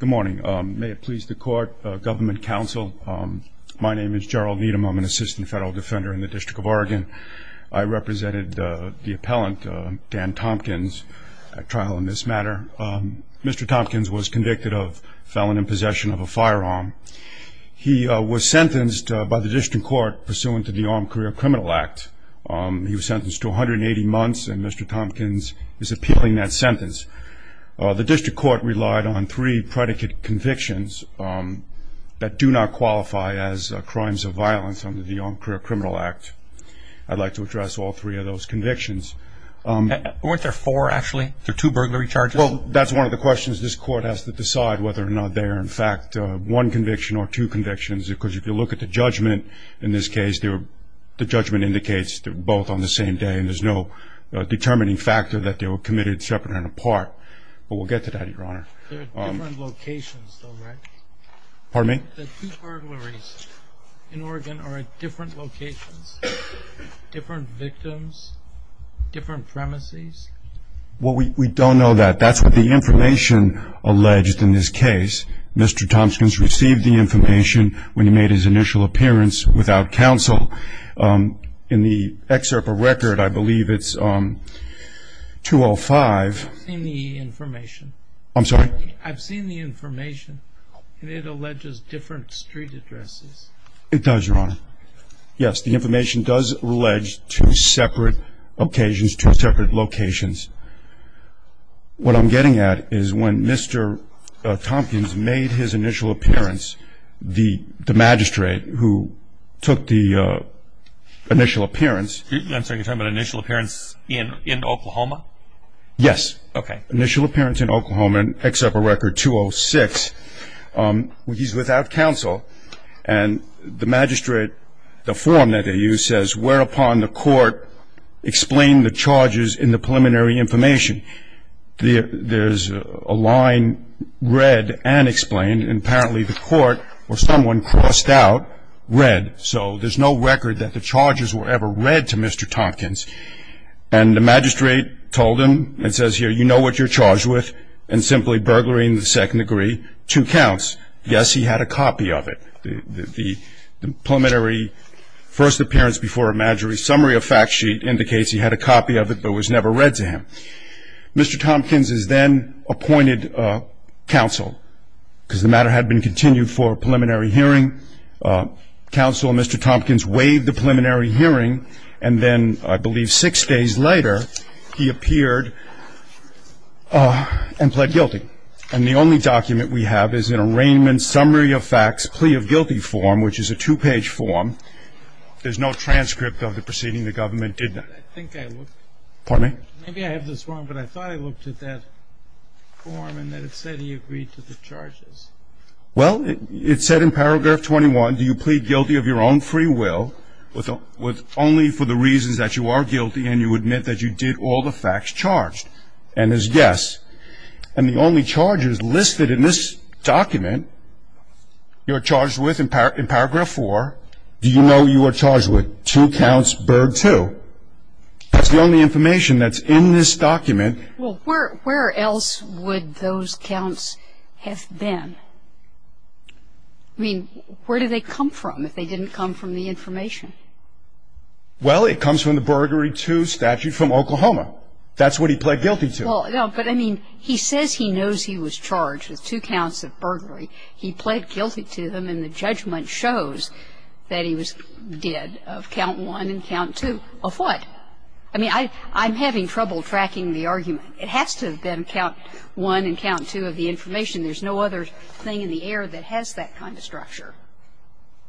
Good morning. May it please the court, government counsel, my name is Gerald Needham. I'm an assistant federal defender in the District of Oregon. I represented the appellant, Dan Tompkins, at trial in this matter. Mr. Tompkins was convicted of felon in possession of a firearm. He was sentenced by the District Court pursuant to the Armed Career Criminal Act. He was sentenced to 180 months, and Mr. Tompkins is appealing that sentence. The District Court relied on three predicate convictions that do not qualify as crimes of violence under the Armed Career Criminal Act. I'd like to address all three of those convictions. Weren't there four, actually? Two burglary charges? Well, that's one of the questions this court has to decide whether or not they are, in fact, one conviction or two convictions, because if you look at the judgment in this case, the judgment indicates they're both on the same day and there's no determining factor that they were committed separate and apart. But we'll get to that, Your Honor. They're at different locations, though, right? Pardon me? The two burglaries in Oregon are at different locations, different victims, different premises? Well, we don't know that. That's what the information alleged in this case. Mr. Tompkins received the information when he made his initial appearance without counsel. In the excerpt of record, I believe it's 205. I've seen the information. I'm sorry? I've seen the information, and it alleges different street addresses. It does, Your Honor. Yes, the information does allege two separate occasions, two separate locations. What I'm getting at is when Mr. Tompkins made his initial appearance, the magistrate who took the initial appearance. I'm sorry, you're talking about initial appearance in Oklahoma? Yes. Okay. Initial appearance in Oklahoma in excerpt of record 206. He's without counsel, and the magistrate, the form that they use says, whereupon the court explained the charges in the preliminary information. There's a line read and explained, and apparently the court or someone crossed out read. So there's no record that the charges were ever read to Mr. Tompkins. And the magistrate told him and says, here, you know what you're charged with, and simply burglary in the second degree, two counts. Yes, he had a copy of it. The preliminary first appearance before a magistrate, summary of fact sheet indicates he had a copy of it but was never read to him. Mr. Tompkins is then appointed counsel, because the matter had been continued for a preliminary hearing. Counsel and Mr. Tompkins waived the preliminary hearing, and then I believe six days later he appeared and pled guilty. And the only document we have is an arraignment summary of facts plea of guilty form, which is a two-page form. There's no transcript of the proceeding. The government did not. I think I looked. Pardon me? Maybe I have this wrong, but I thought I looked at that form, and that it said he agreed to the charges. Well, it said in paragraph 21, do you plead guilty of your own free will only for the reasons that you are guilty and you admit that you did all the facts charged, and is yes. And the only charges listed in this document you're charged with in paragraph 4, do you know you are charged with? Two counts burg two. That's the only information that's in this document. Well, where else would those counts have been? I mean, where do they come from if they didn't come from the information? Well, it comes from the burglary two statute from Oklahoma. That's what he pled guilty to. Well, no, but I mean, he says he knows he was charged with two counts of burglary. He pled guilty to them, and the judgment shows that he was dead of count one and count two. Of what? I mean, I'm having trouble tracking the argument. It has to have been count one and count two of the information. There's no other thing in the air that has that kind of structure.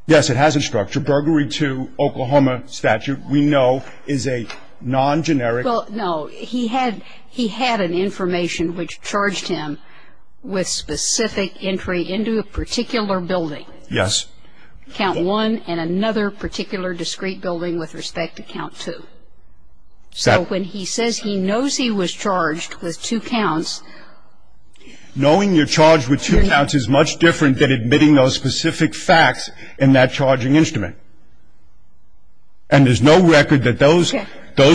Yes, it has a structure. Burglary two, Oklahoma statute, we know is a non-generic. Well, no, he had an information which charged him with specific entry into a particular building. Yes. Count one and another particular discrete building with respect to count two. So when he says he knows he was charged with two counts. Knowing you're charged with two counts is much different than admitting those specific facts in that charging instrument. And there's no record that those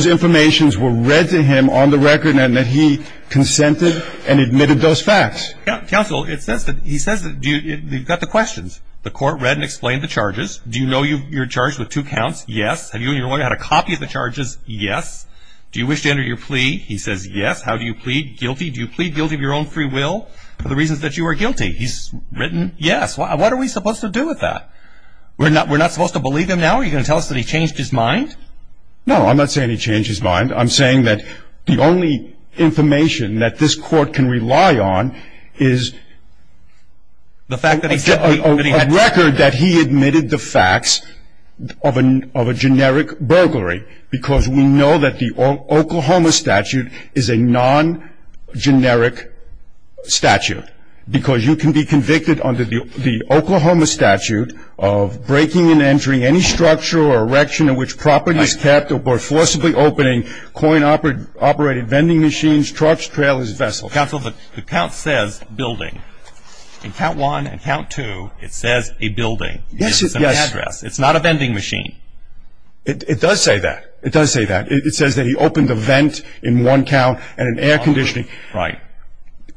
informations were read to him on the record and that he consented and admitted those facts. Counsel, he says that we've got the questions. The court read and explained the charges. Do you know you're charged with two counts? Yes. Have you and your lawyer had a copy of the charges? Yes. Do you wish to enter your plea? He says yes. How do you plead? Guilty. Do you plead guilty of your own free will for the reasons that you are guilty? He's written yes. What are we supposed to do with that? We're not supposed to believe him now? Are you going to tell us that he changed his mind? No, I'm not saying he changed his mind. I'm saying that the only information that this court can rely on is a record that he admitted the facts of a generic burglary because we know that the Oklahoma statute is a non-generic statute because you can be convicted under the Oklahoma statute of breaking and entering any structure or erection in which properties kept or forcibly opening coin-operated vending machines, trucks, trailers, vessels. Counsel, the count says building. In count one and count two, it says a building. Yes. It's an address. It's not a vending machine. It does say that. It does say that. It says that he opened a vent in one count and an air conditioning. Right.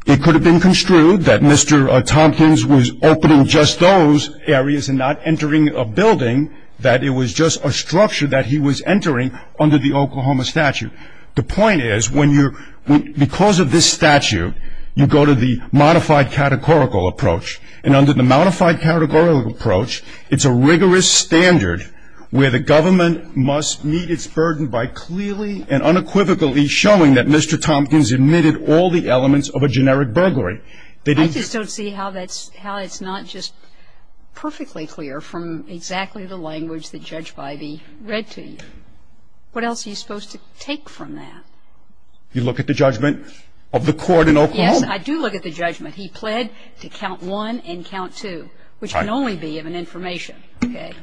It could have been construed that Mr. Tompkins was opening just those areas and not entering a building, that it was just a structure that he was entering under the Oklahoma statute. The point is, because of this statute, you go to the modified categorical approach, and under the modified categorical approach, it's a rigorous standard where the government must meet its burden by clearly and unequivocally showing that Mr. Tompkins emitted all the elements of a generic burglary. I just don't see how that's not just perfectly clear from exactly the language that Judge Bybee read to you. What else are you supposed to take from that? You look at the judgment of the court in Oklahoma. Yes, I do look at the judgment. He pled to count one and count two, which can only be of an information, okay,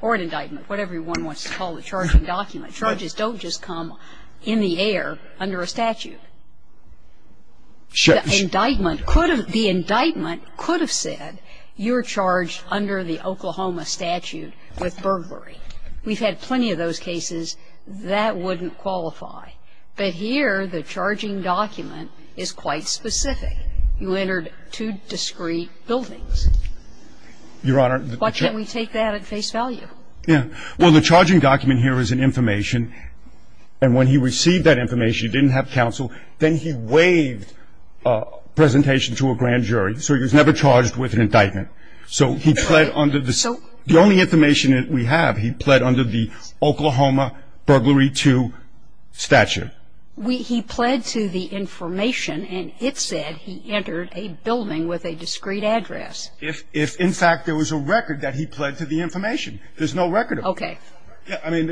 or an indictment, or whatever one wants to call the charging document. Charges don't just come in the air under a statute. The indictment could have said you're charged under the Oklahoma statute with burglary. We've had plenty of those cases. That wouldn't qualify. But here, the charging document is quite specific. You entered two discrete buildings. Your Honor, the judge ---- Why can't we take that at face value? Yeah. Well, the charging document here is an information. And when he received that information, he didn't have counsel. Then he waived presentation to a grand jury. So he was never charged with an indictment. So he pled under the ---- So ---- The only information that we have, he pled under the Oklahoma burglary two statute. He pled to the information, and it said he entered a building with a discrete address. If, in fact, there was a record that he pled to the information. There's no record of that. Okay. Yeah, I mean,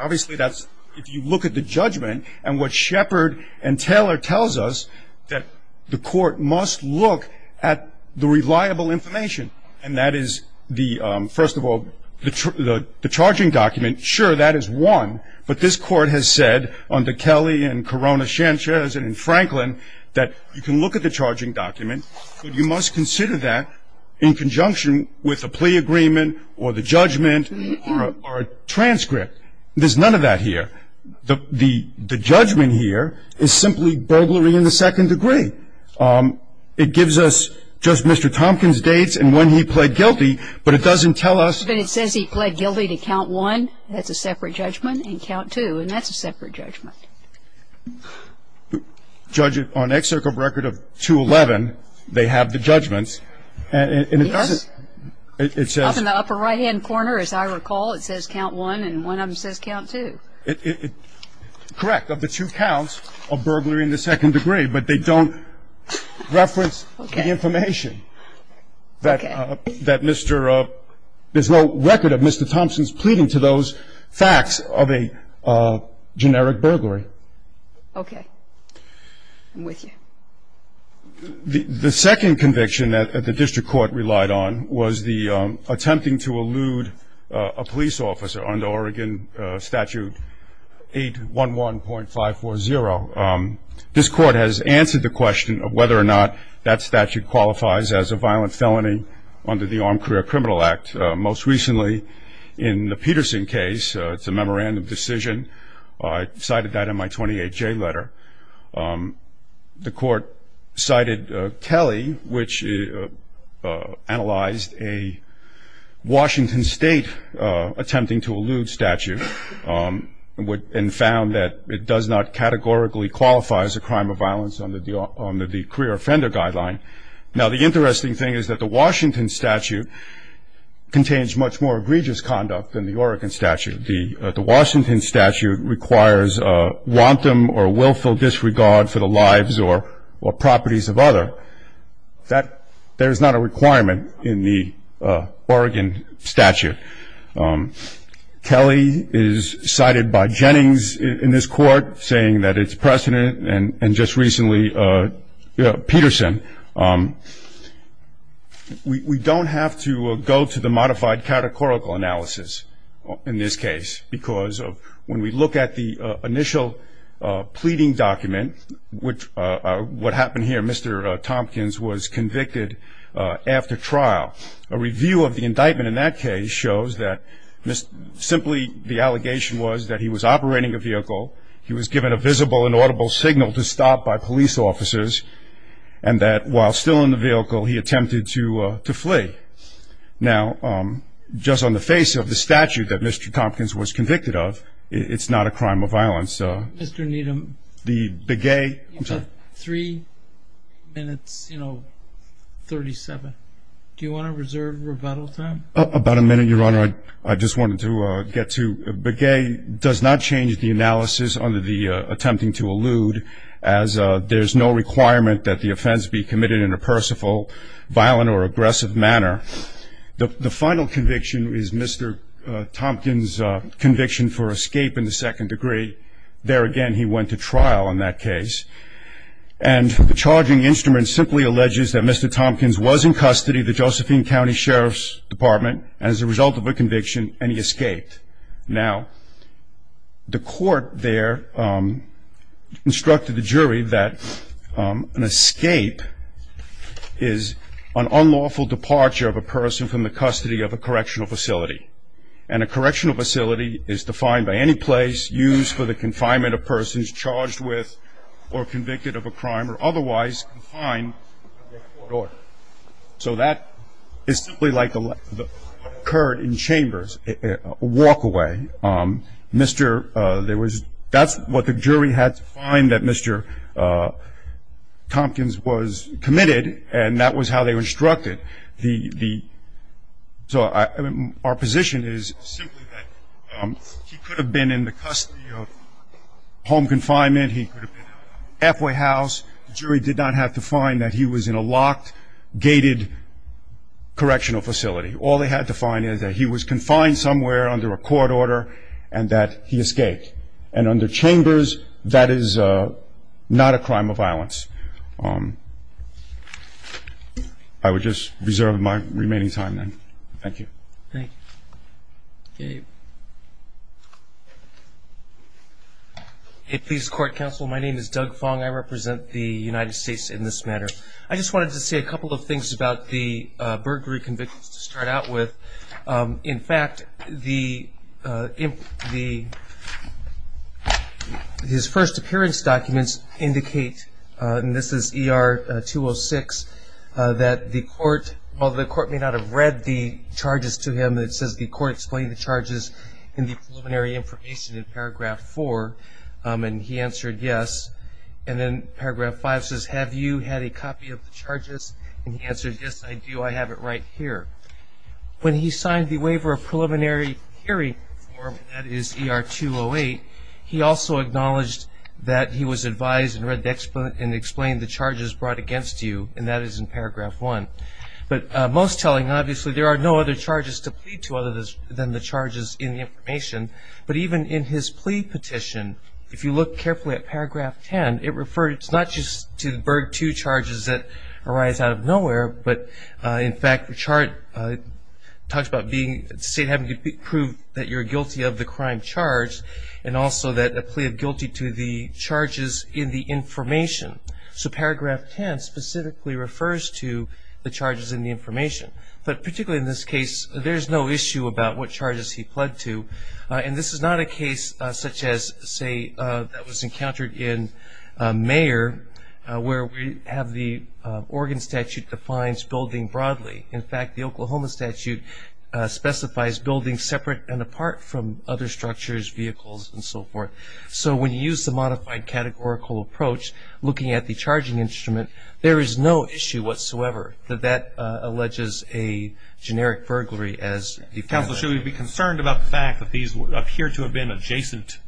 obviously that's ---- If you look at the judgment and what Shepard and Taylor tells us, that the court must look at the reliable information. And that is the, first of all, the charging document. Sure, that is one. But this court has said under Kelly and Corona-Sanchez and Franklin that you can look at the charging document, but you must consider that in conjunction with the plea agreement or the judgment or a transcript. There's none of that here. The judgment here is simply burglary in the second degree. It gives us just Mr. Tompkins' dates and when he pled guilty, but it doesn't tell us ---- But it says he pled guilty to count one. That's a separate judgment. And count two, and that's a separate judgment. Judge, on an excerpt of record of 211, they have the judgments, and it doesn't ---- Yes. It says ---- Up in the upper right-hand corner, as I recall, it says count one, and one of them says count two. Correct. Of the two counts of burglary in the second degree, but they don't reference the information that Mr. ---- That's of a generic burglary. Okay. I'm with you. The second conviction that the district court relied on was the attempting to elude a police officer under Oregon Statute 811.540. This court has answered the question of whether or not that statute qualifies as a violent felony under the Armed Career Criminal Act. Most recently, in the Peterson case, it's a memorandum decision. I cited that in my 28-J letter. The court cited Kelly, which analyzed a Washington State attempting to elude statute and found that it does not categorically qualify as a crime of violence under the Career Offender Guideline. Now, the interesting thing is that the Washington statute contains much more egregious conduct than the Oregon statute. The Washington statute requires a wanton or willful disregard for the lives or properties of others. There is not a requirement in the Oregon statute. Kelly is cited by Jennings in this court, saying that it's precedent, and just recently Peterson. We don't have to go to the modified categorical analysis in this case, because when we look at the initial pleading document, what happened here, Mr. Tompkins was convicted after trial. A review of the indictment in that case shows that simply the allegation was that he was operating a vehicle, he was given a visible and audible signal to stop by police officers, and that while still in the vehicle he attempted to flee. Now, just on the face of the statute that Mr. Tompkins was convicted of, it's not a crime of violence. Mr. Needham, you have three minutes 37. Do you want to reserve rebuttal time? About a minute, Your Honor. I just wanted to get to Begay does not change the analysis under the attempting to allude, as there's no requirement that the offense be committed in a personal, violent, or aggressive manner. The final conviction is Mr. Tompkins' conviction for escape in the second degree. There again, he went to trial in that case. And the charging instrument simply alleges that Mr. Tompkins was in custody of the Josephine County Sheriff's Department, as a result of a conviction, and he escaped. Now, the court there instructed the jury that an escape is an unlawful departure of a person from the custody of a correctional facility. And a correctional facility is defined by any place used for the confinement of persons charged with or convicted of a crime or otherwise confined to a court order. So that is simply like what occurred in chambers, a walk away. That's what the jury had to find that Mr. Tompkins was committed, and that was how they were instructed. So our position is simply that he could have been in the custody of home confinement. He could have been halfway house. The jury did not have to find that he was in a locked, gated correctional facility. All they had to find is that he was confined somewhere under a court order and that he escaped. And under chambers, that is not a crime of violence. I would just reserve my remaining time then. Thank you. Thank you. Okay. If these court counsel, my name is Doug Fong. I represent the United States in this matter. I just wanted to say a couple of things about the burglary convictions to start out with. In fact, his first appearance documents indicate, and this is ER 206, that the court, while the court may not have read the charges to him, it says the court explained the charges in the preliminary information in paragraph four, and he answered yes. And then paragraph five says, have you had a copy of the charges? And he answered, yes, I do. I have it right here. When he signed the waiver of preliminary hearing form, that is ER 208, he also acknowledged that he was advised and read and explained the charges brought against you, and that is in paragraph one. But most telling, obviously, there are no other charges to plead to other than the charges in the information. But even in his plea petition, if you look carefully at paragraph ten, it refers not just to the Berg II charges that arise out of nowhere, but, in fact, the chart talks about having to prove that you're guilty of the crime charged and also that a plea of guilty to the charges in the information. So paragraph ten specifically refers to the charges in the information. But particularly in this case, there's no issue about what charges he pled to. And this is not a case such as, say, that was encountered in Mayer, where we have the Oregon statute defines building broadly. In fact, the Oklahoma statute specifies building separate and apart from other structures, vehicles, and so forth. So when you use the modified categorical approach, looking at the charging instrument, there is no issue whatsoever that that alleges a generic burglary as a felony. Counsel, should we be concerned about the fact that these appear to have been adjacent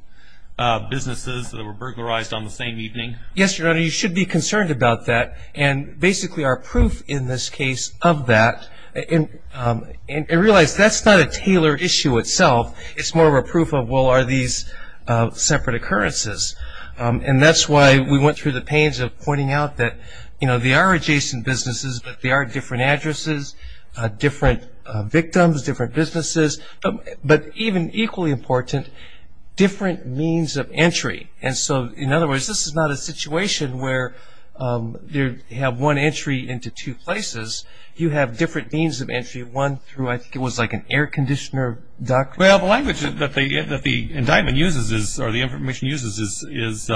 businesses that were burglarized on the same evening? Yes, Your Honor, you should be concerned about that. And basically our proof in this case of that, and realize that's not a tailored issue itself. It's more of a proof of, well, are these separate occurrences? And that's why we went through the pains of pointing out that, you know, they are adjacent businesses, but they are different addresses, different victims, different businesses, but even equally important, different means of entry. And so, in other words, this is not a situation where you have one entry into two places. You have different means of entry, one through, I think it was like an air conditioner duct. Well, the language that the indictment uses or the information uses is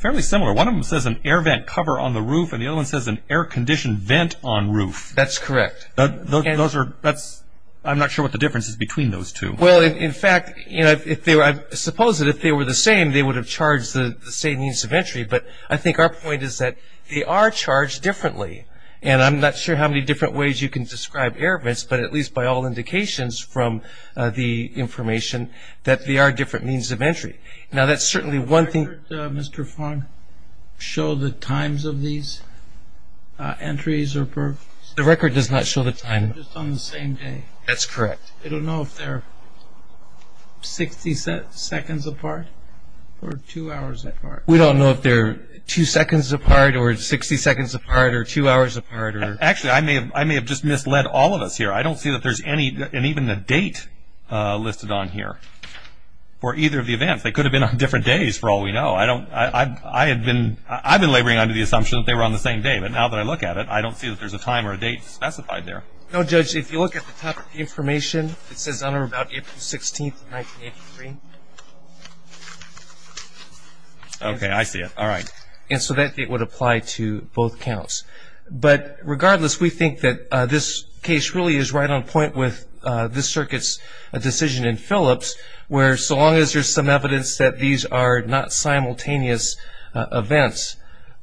fairly similar. One of them says an air vent cover on the roof, and the other one says an air conditioned vent on roof. That's correct. Those are, that's, I'm not sure what the difference is between those two. Well, in fact, you know, I suppose that if they were the same, they would have charged the same means of entry. But I think our point is that they are charged differently, and I'm not sure how many different ways you can describe air vents, but at least by all indications from the information that they are different means of entry. Now, that's certainly one thing. Does the record, Mr. Fong, show the times of these entries or burglars? The record does not show the time. Just on the same day. That's correct. I don't know if they're 60 seconds apart or two hours apart. We don't know if they're two seconds apart or 60 seconds apart or two hours apart. Actually, I may have just misled all of us here. I don't see that there's any, and even the date listed on here for either of the events. They could have been on different days for all we know. I had been, I've been laboring under the assumption that they were on the same day, but now that I look at it, I don't see that there's a time or a date specified there. No, Judge, if you look at the top of the information, it says on or about April 16th, 1983. Okay, I see it. All right. And so that date would apply to both counts. But regardless, we think that this case really is right on point with this circuit's decision in Phillips, where so long as there's some evidence that these are not simultaneous events,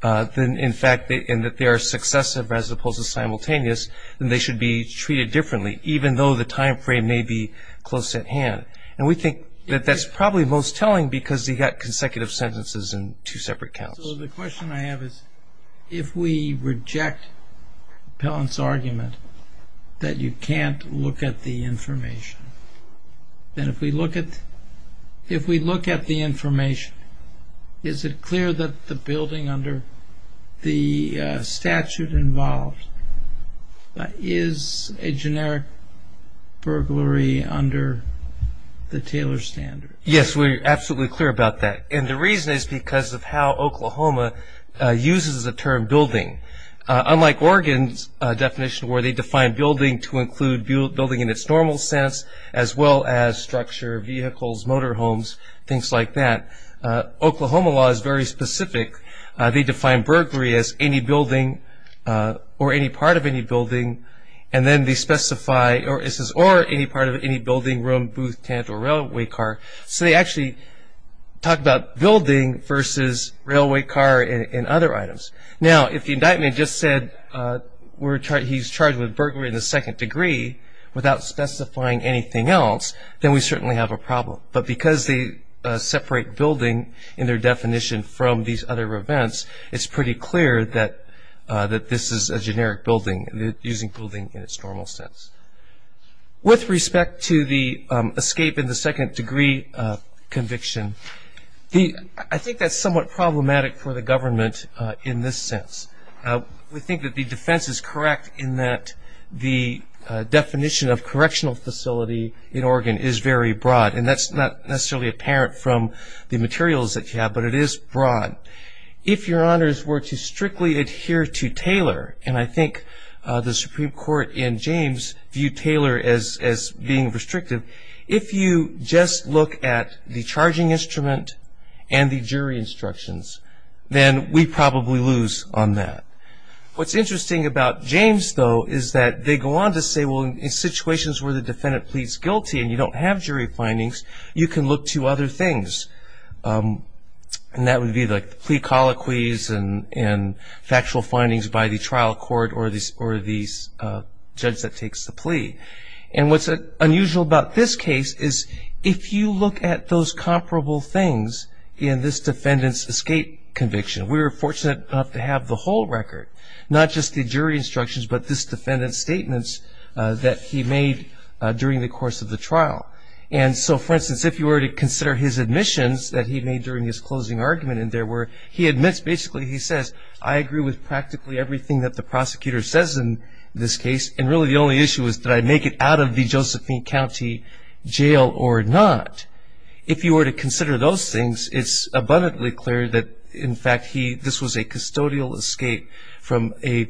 in fact, and that they are successive as opposed to simultaneous, then they should be treated differently, even though the time frame may be close at hand. And we think that that's probably most telling because you've got consecutive sentences and two separate counts. So the question I have is, if we reject Pellant's argument that you can't look at the information, then if we look at the information, is it clear that the building under the statute involved is a generic burglary under the Taylor standard? Yes, we're absolutely clear about that. And the reason is because of how Oklahoma uses the term building. Unlike Oregon's definition where they define building to include building in its normal sense, as well as structure, vehicles, motorhomes, things like that, Oklahoma law is very specific. They define burglary as any building or any part of any building, or any part of any building, room, booth, tent, or railway car. So they actually talk about building versus railway car and other items. Now, if the indictment just said he's charged with burglary in the second degree without specifying anything else, then we certainly have a problem. But because they separate building in their definition from these other events, it's pretty clear that this is a generic building, using building in its normal sense. With respect to the escape in the second degree conviction, I think that's somewhat problematic for the government in this sense. We think that the defense is correct in that the definition of correctional facility in Oregon is very broad. And that's not necessarily apparent from the materials that you have, but it is broad. If your honors were to strictly adhere to Taylor, and I think the Supreme Court in James viewed Taylor as being restrictive, if you just look at the charging instrument and the jury instructions, then we probably lose on that. What's interesting about James, though, is that they go on to say, well, in situations where the defendant pleads guilty and you don't have jury findings, you can look to other things. And that would be like the plea colloquies and factual findings by the trial court or the judge that takes the plea. And what's unusual about this case is if you look at those comparable things in this defendant's escape conviction, we were fortunate enough to have the whole record, not just the jury instructions, but this defendant's statements that he made during the course of the trial. And so, for instance, if you were to consider his admissions that he made during his closing argument, he admits basically he says, I agree with practically everything that the prosecutor says in this case, and really the only issue is did I make it out of the Josephine County jail or not. If you were to consider those things, it's abundantly clear that, in fact, this was a custodial escape from a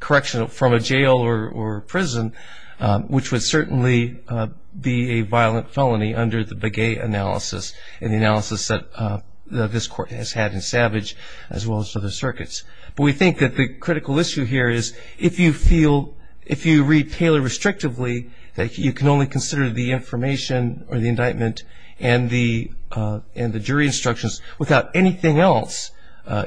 correctional, from a jail or prison, which would certainly be a violent felony under the Begay analysis and the analysis that this court has had in Savage as well as other circuits. But we think that the critical issue here is if you feel, if you read Taylor restrictively, that you can only consider the information or the indictment and the jury instructions without anything else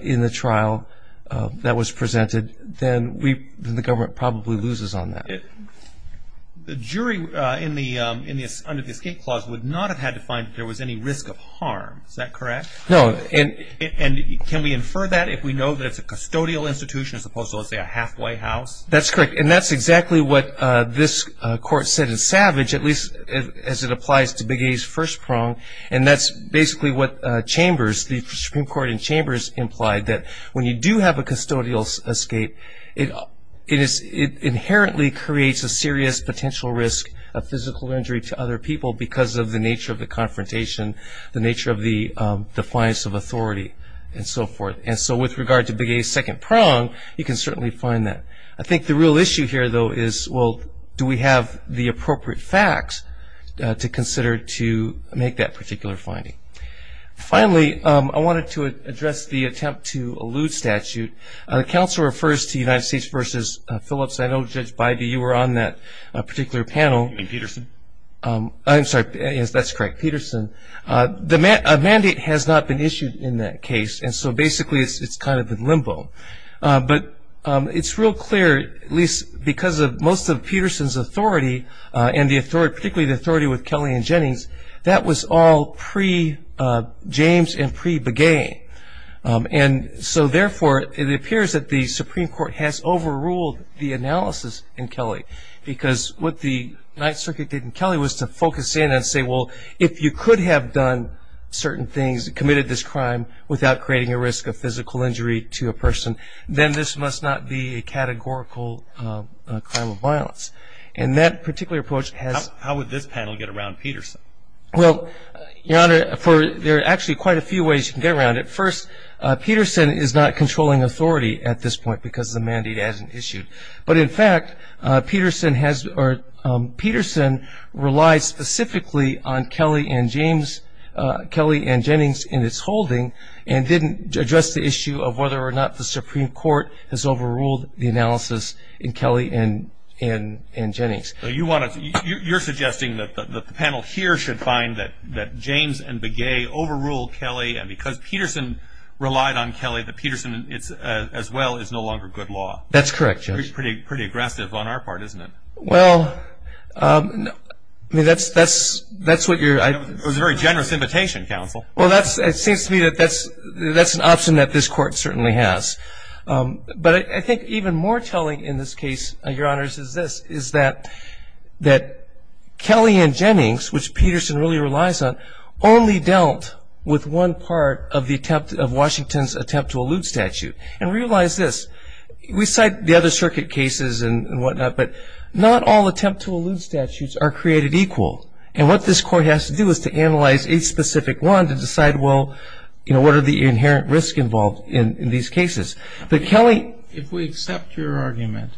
in the trial that was presented, then the government probably loses on that. The jury under the escape clause would not have had to find that there was any risk of harm. Is that correct? No. And can we infer that if we know that it's a custodial institution as opposed to, say, a halfway house? That's correct. And that's exactly what this court said in Savage, at least as it applies to Begay's first prong, and that's basically what Chambers, the Supreme Court in Chambers, implied that when you do have a custodial escape, it inherently creates a serious potential risk of physical injury to other people because of the nature of the confrontation, the nature of the defiance of authority, and so forth. And so with regard to Begay's second prong, you can certainly find that. I think the real issue here, though, is, well, do we have the appropriate facts to consider to make that particular finding? Finally, I wanted to address the attempt to allude statute. The counsel refers to United States v. Phillips. I know, Judge Bybee, you were on that particular panel. You mean Peterson? I'm sorry. Yes, that's correct, Peterson. A mandate has not been issued in that case, and so basically it's kind of in limbo. But it's real clear, at least because of most of Peterson's authority and particularly the authority with Kelly and Jennings, that was all pre-James and pre-Begay. And so, therefore, it appears that the Supreme Court has overruled the analysis in Kelly because what the Ninth Circuit did in Kelly was to focus in and say, well, if you could have done certain things, committed this crime, without creating a risk of physical injury to a person, then this must not be a categorical crime of violence. And that particular approach has- How would this panel get around Peterson? Well, Your Honor, there are actually quite a few ways you can get around it. First, Peterson is not controlling authority at this point because the mandate hasn't issued. But, in fact, Peterson relies specifically on Kelly and Jennings in its holding and didn't address the issue of whether or not the Supreme Court has overruled the analysis in Kelly and Jennings. You're suggesting that the panel here should find that James and Begay overruled Kelly, and because Peterson relied on Kelly, that Peterson as well is no longer good law. That's correct, Judge. Pretty aggressive on our part, isn't it? Well, that's what you're- It was a very generous invitation, Counsel. Well, it seems to me that that's an option that this Court certainly has. But I think even more telling in this case, Your Honors, is this, is that Kelly and Jennings, which Peterson really relies on, only dealt with one part of Washington's attempt to elude statute. And realize this, we cite the other circuit cases and whatnot, but not all attempt to elude statutes are created equal. And what this Court has to do is to analyze each specific one to decide, well, what are the inherent risks involved in these cases? But Kelly- If we accept your argument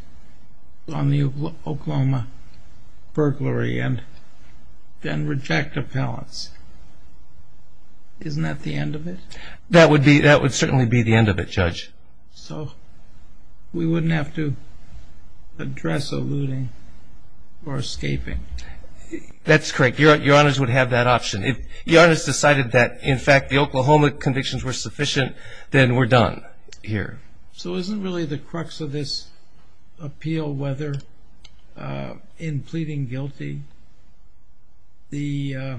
on the Oklahoma burglary and then reject appellants, isn't that the end of it? That would certainly be the end of it, Judge. So we wouldn't have to address eluding or escaping. That's correct. Your Honors would have that option. If Your Honors decided that, in fact, the Oklahoma convictions were sufficient, then we're done here. So isn't really the crux of this appeal whether in pleading guilty the-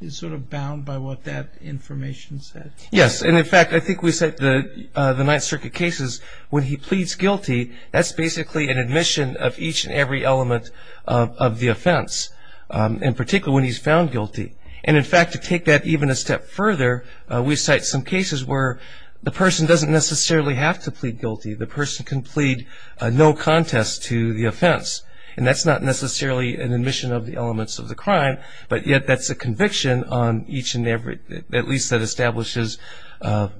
is sort of bound by what that information said? Yes. And, in fact, I think we cite the Ninth Circuit cases when he pleads guilty, that's basically an admission of each and every element of the offense, in particular when he's found guilty. And, in fact, to take that even a step further, we cite some cases where the person doesn't necessarily have to plead guilty. The person can plead no contest to the offense. And that's not necessarily an admission of the elements of the crime, but yet that's a conviction on each and every- at least that establishes of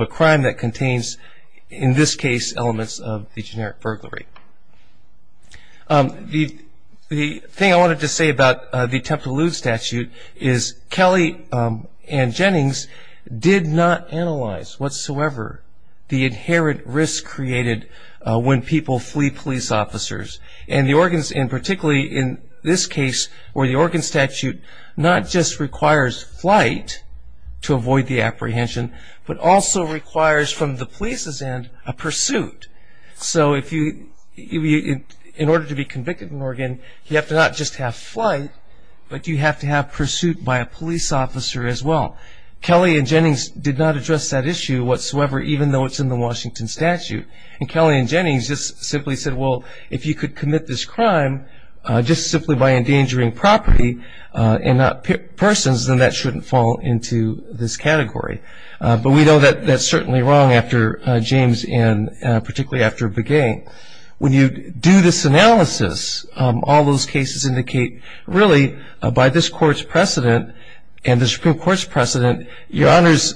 a crime that contains, in this case, elements of the generic burglary. The thing I wanted to say about the attempt to elude statute is Kelly and Jennings did not analyze whatsoever the inherent risk created when people flee police officers. And particularly in this case where the Oregon statute not just requires flight to avoid the apprehension, but also requires from the police's end a pursuit. So in order to be convicted in Oregon, you have to not just have flight, but you have to have pursuit by a police officer as well. Kelly and Jennings did not address that issue whatsoever, even though it's in the Washington statute. And Kelly and Jennings just simply said, well, if you could commit this crime just simply by endangering property and not persons, then that shouldn't fall into this category. But we know that that's certainly wrong after James and particularly after Begay. When you do this analysis, all those cases indicate, really, that your honors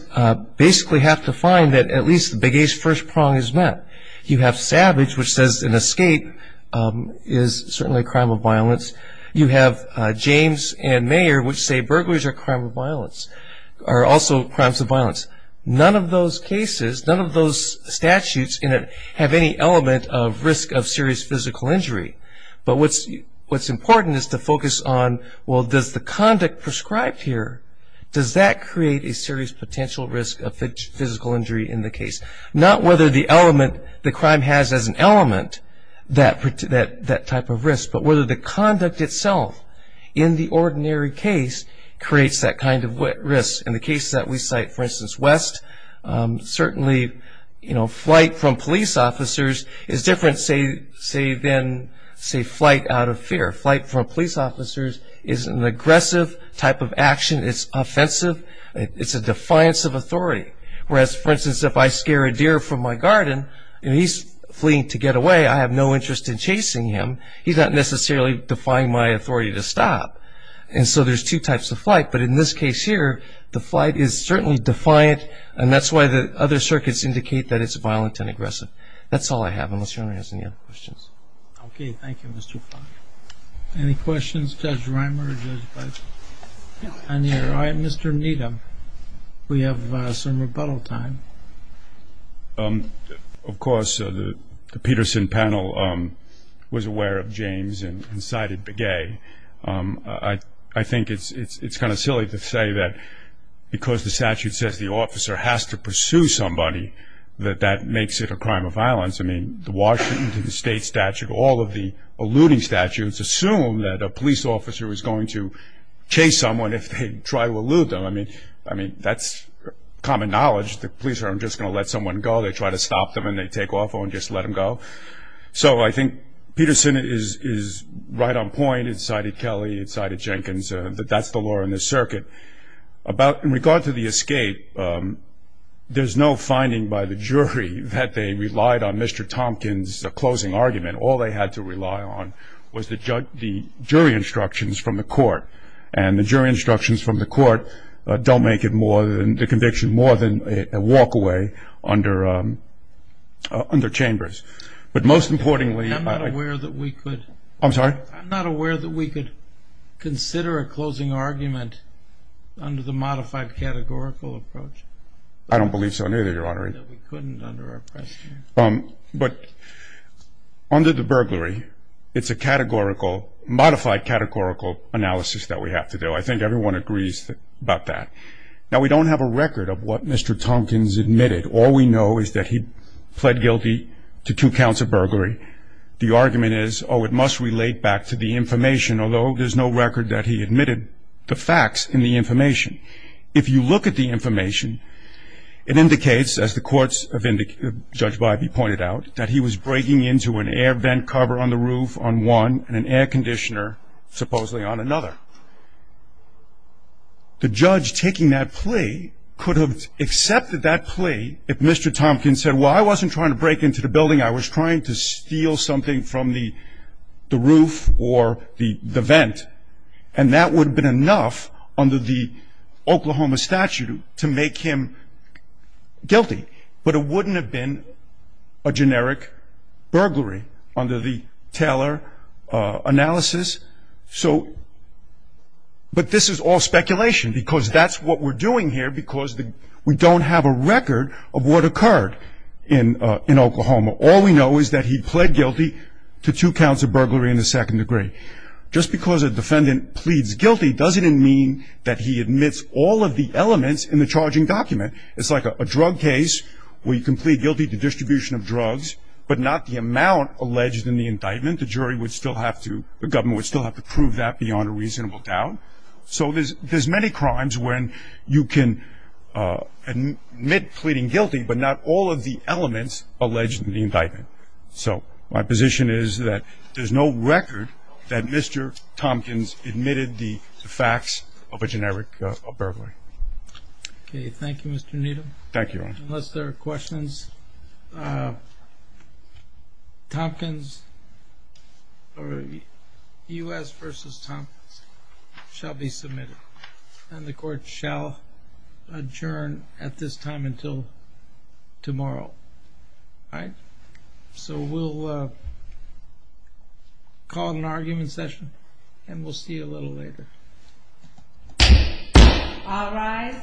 basically have to find that at least Begay's first prong is met. You have Savage, which says an escape is certainly a crime of violence. You have James and Mayer, which say burglaries are also crimes of violence. None of those cases, none of those statutes have any element of risk of serious physical injury. But what's important is to focus on, well, does the conduct prescribed here, does that create a serious potential risk of physical injury in the case? Not whether the element, the crime has as an element that type of risk, but whether the conduct itself in the ordinary case creates that kind of risk. In the case that we cite, for instance, West, certainly flight from police officers is different, say, than, say, flight out of fear. Flight from police officers is an aggressive type of action. It's offensive. It's a defiance of authority. Whereas, for instance, if I scare a deer from my garden and he's fleeing to get away, I have no interest in chasing him. He's not necessarily defying my authority to stop. And so there's two types of flight. But in this case here, the flight is certainly defiant, and that's why the other circuits indicate that it's violent and aggressive. That's all I have, unless you want to ask any other questions. Okay. Thank you, Mr. Fox. Any questions? Judge Reimer or Judge Bison? No. All right. Mr. Needham, we have some rebuttal time. Of course, the Peterson panel was aware of James and cited Begay. I think it's kind of silly to say that because the statute says the officer has to pursue somebody, that that makes it a crime of violence. I mean, the Washington state statute, all of the eluding statutes, assume that a police officer is going to chase someone if they try to elude them. I mean, that's common knowledge. The police aren't just going to let someone go. They try to stop them, and they take off and just let them go. So I think Peterson is right on point. It cited Kelly. It cited Jenkins. That's the law in this circuit. In regard to the escape, there's no finding by the jury that they relied on Mr. Tompkins' closing argument. All they had to rely on was the jury instructions from the court, and the jury instructions from the court don't make the conviction more than a walk away under Chambers. But most importantly ‑‑ I'm sorry? Under the modified categorical approach? I don't believe so, neither, Your Honor. That we couldn't under our pressure? But under the burglary, it's a categorical, modified categorical analysis that we have to do. I think everyone agrees about that. Now, we don't have a record of what Mr. Tompkins admitted. All we know is that he pled guilty to two counts of burglary. The argument is, oh, it must relate back to the information, although there's no record that he admitted the facts in the information. If you look at the information, it indicates, as the courts have indicated, Judge Bybee pointed out, that he was breaking into an air vent cover on the roof on one and an air conditioner, supposedly, on another. The judge taking that plea could have accepted that plea if Mr. Tompkins said, well, I wasn't trying to break into the building. I was trying to steal something from the roof or the vent. And that would have been enough under the Oklahoma statute to make him guilty. But it wouldn't have been a generic burglary under the Taylor analysis. So ‑‑ but this is all speculation because that's what we're doing here because we don't have a record of what occurred in Oklahoma. All we know is that he pled guilty to two counts of burglary in the second degree. Just because a defendant pleads guilty doesn't mean that he admits all of the elements in the charging document. It's like a drug case where you can plead guilty to distribution of drugs, but not the amount alleged in the indictment. The jury would still have to ‑‑ the government would still have to prove that beyond a reasonable doubt. So there's many crimes when you can admit pleading guilty, but not all of the elements alleged in the indictment. So my position is that there's no record that Mr. Tompkins admitted the facts of a generic burglary. Okay. Thank you, Mr. Needham. Thank you, Your Honor. Unless there are questions, Tompkins or U.S. v. Tompkins shall be submitted. And the court shall adjourn at this time until tomorrow. All right? So we'll call an argument session, and we'll see you a little later. All rise.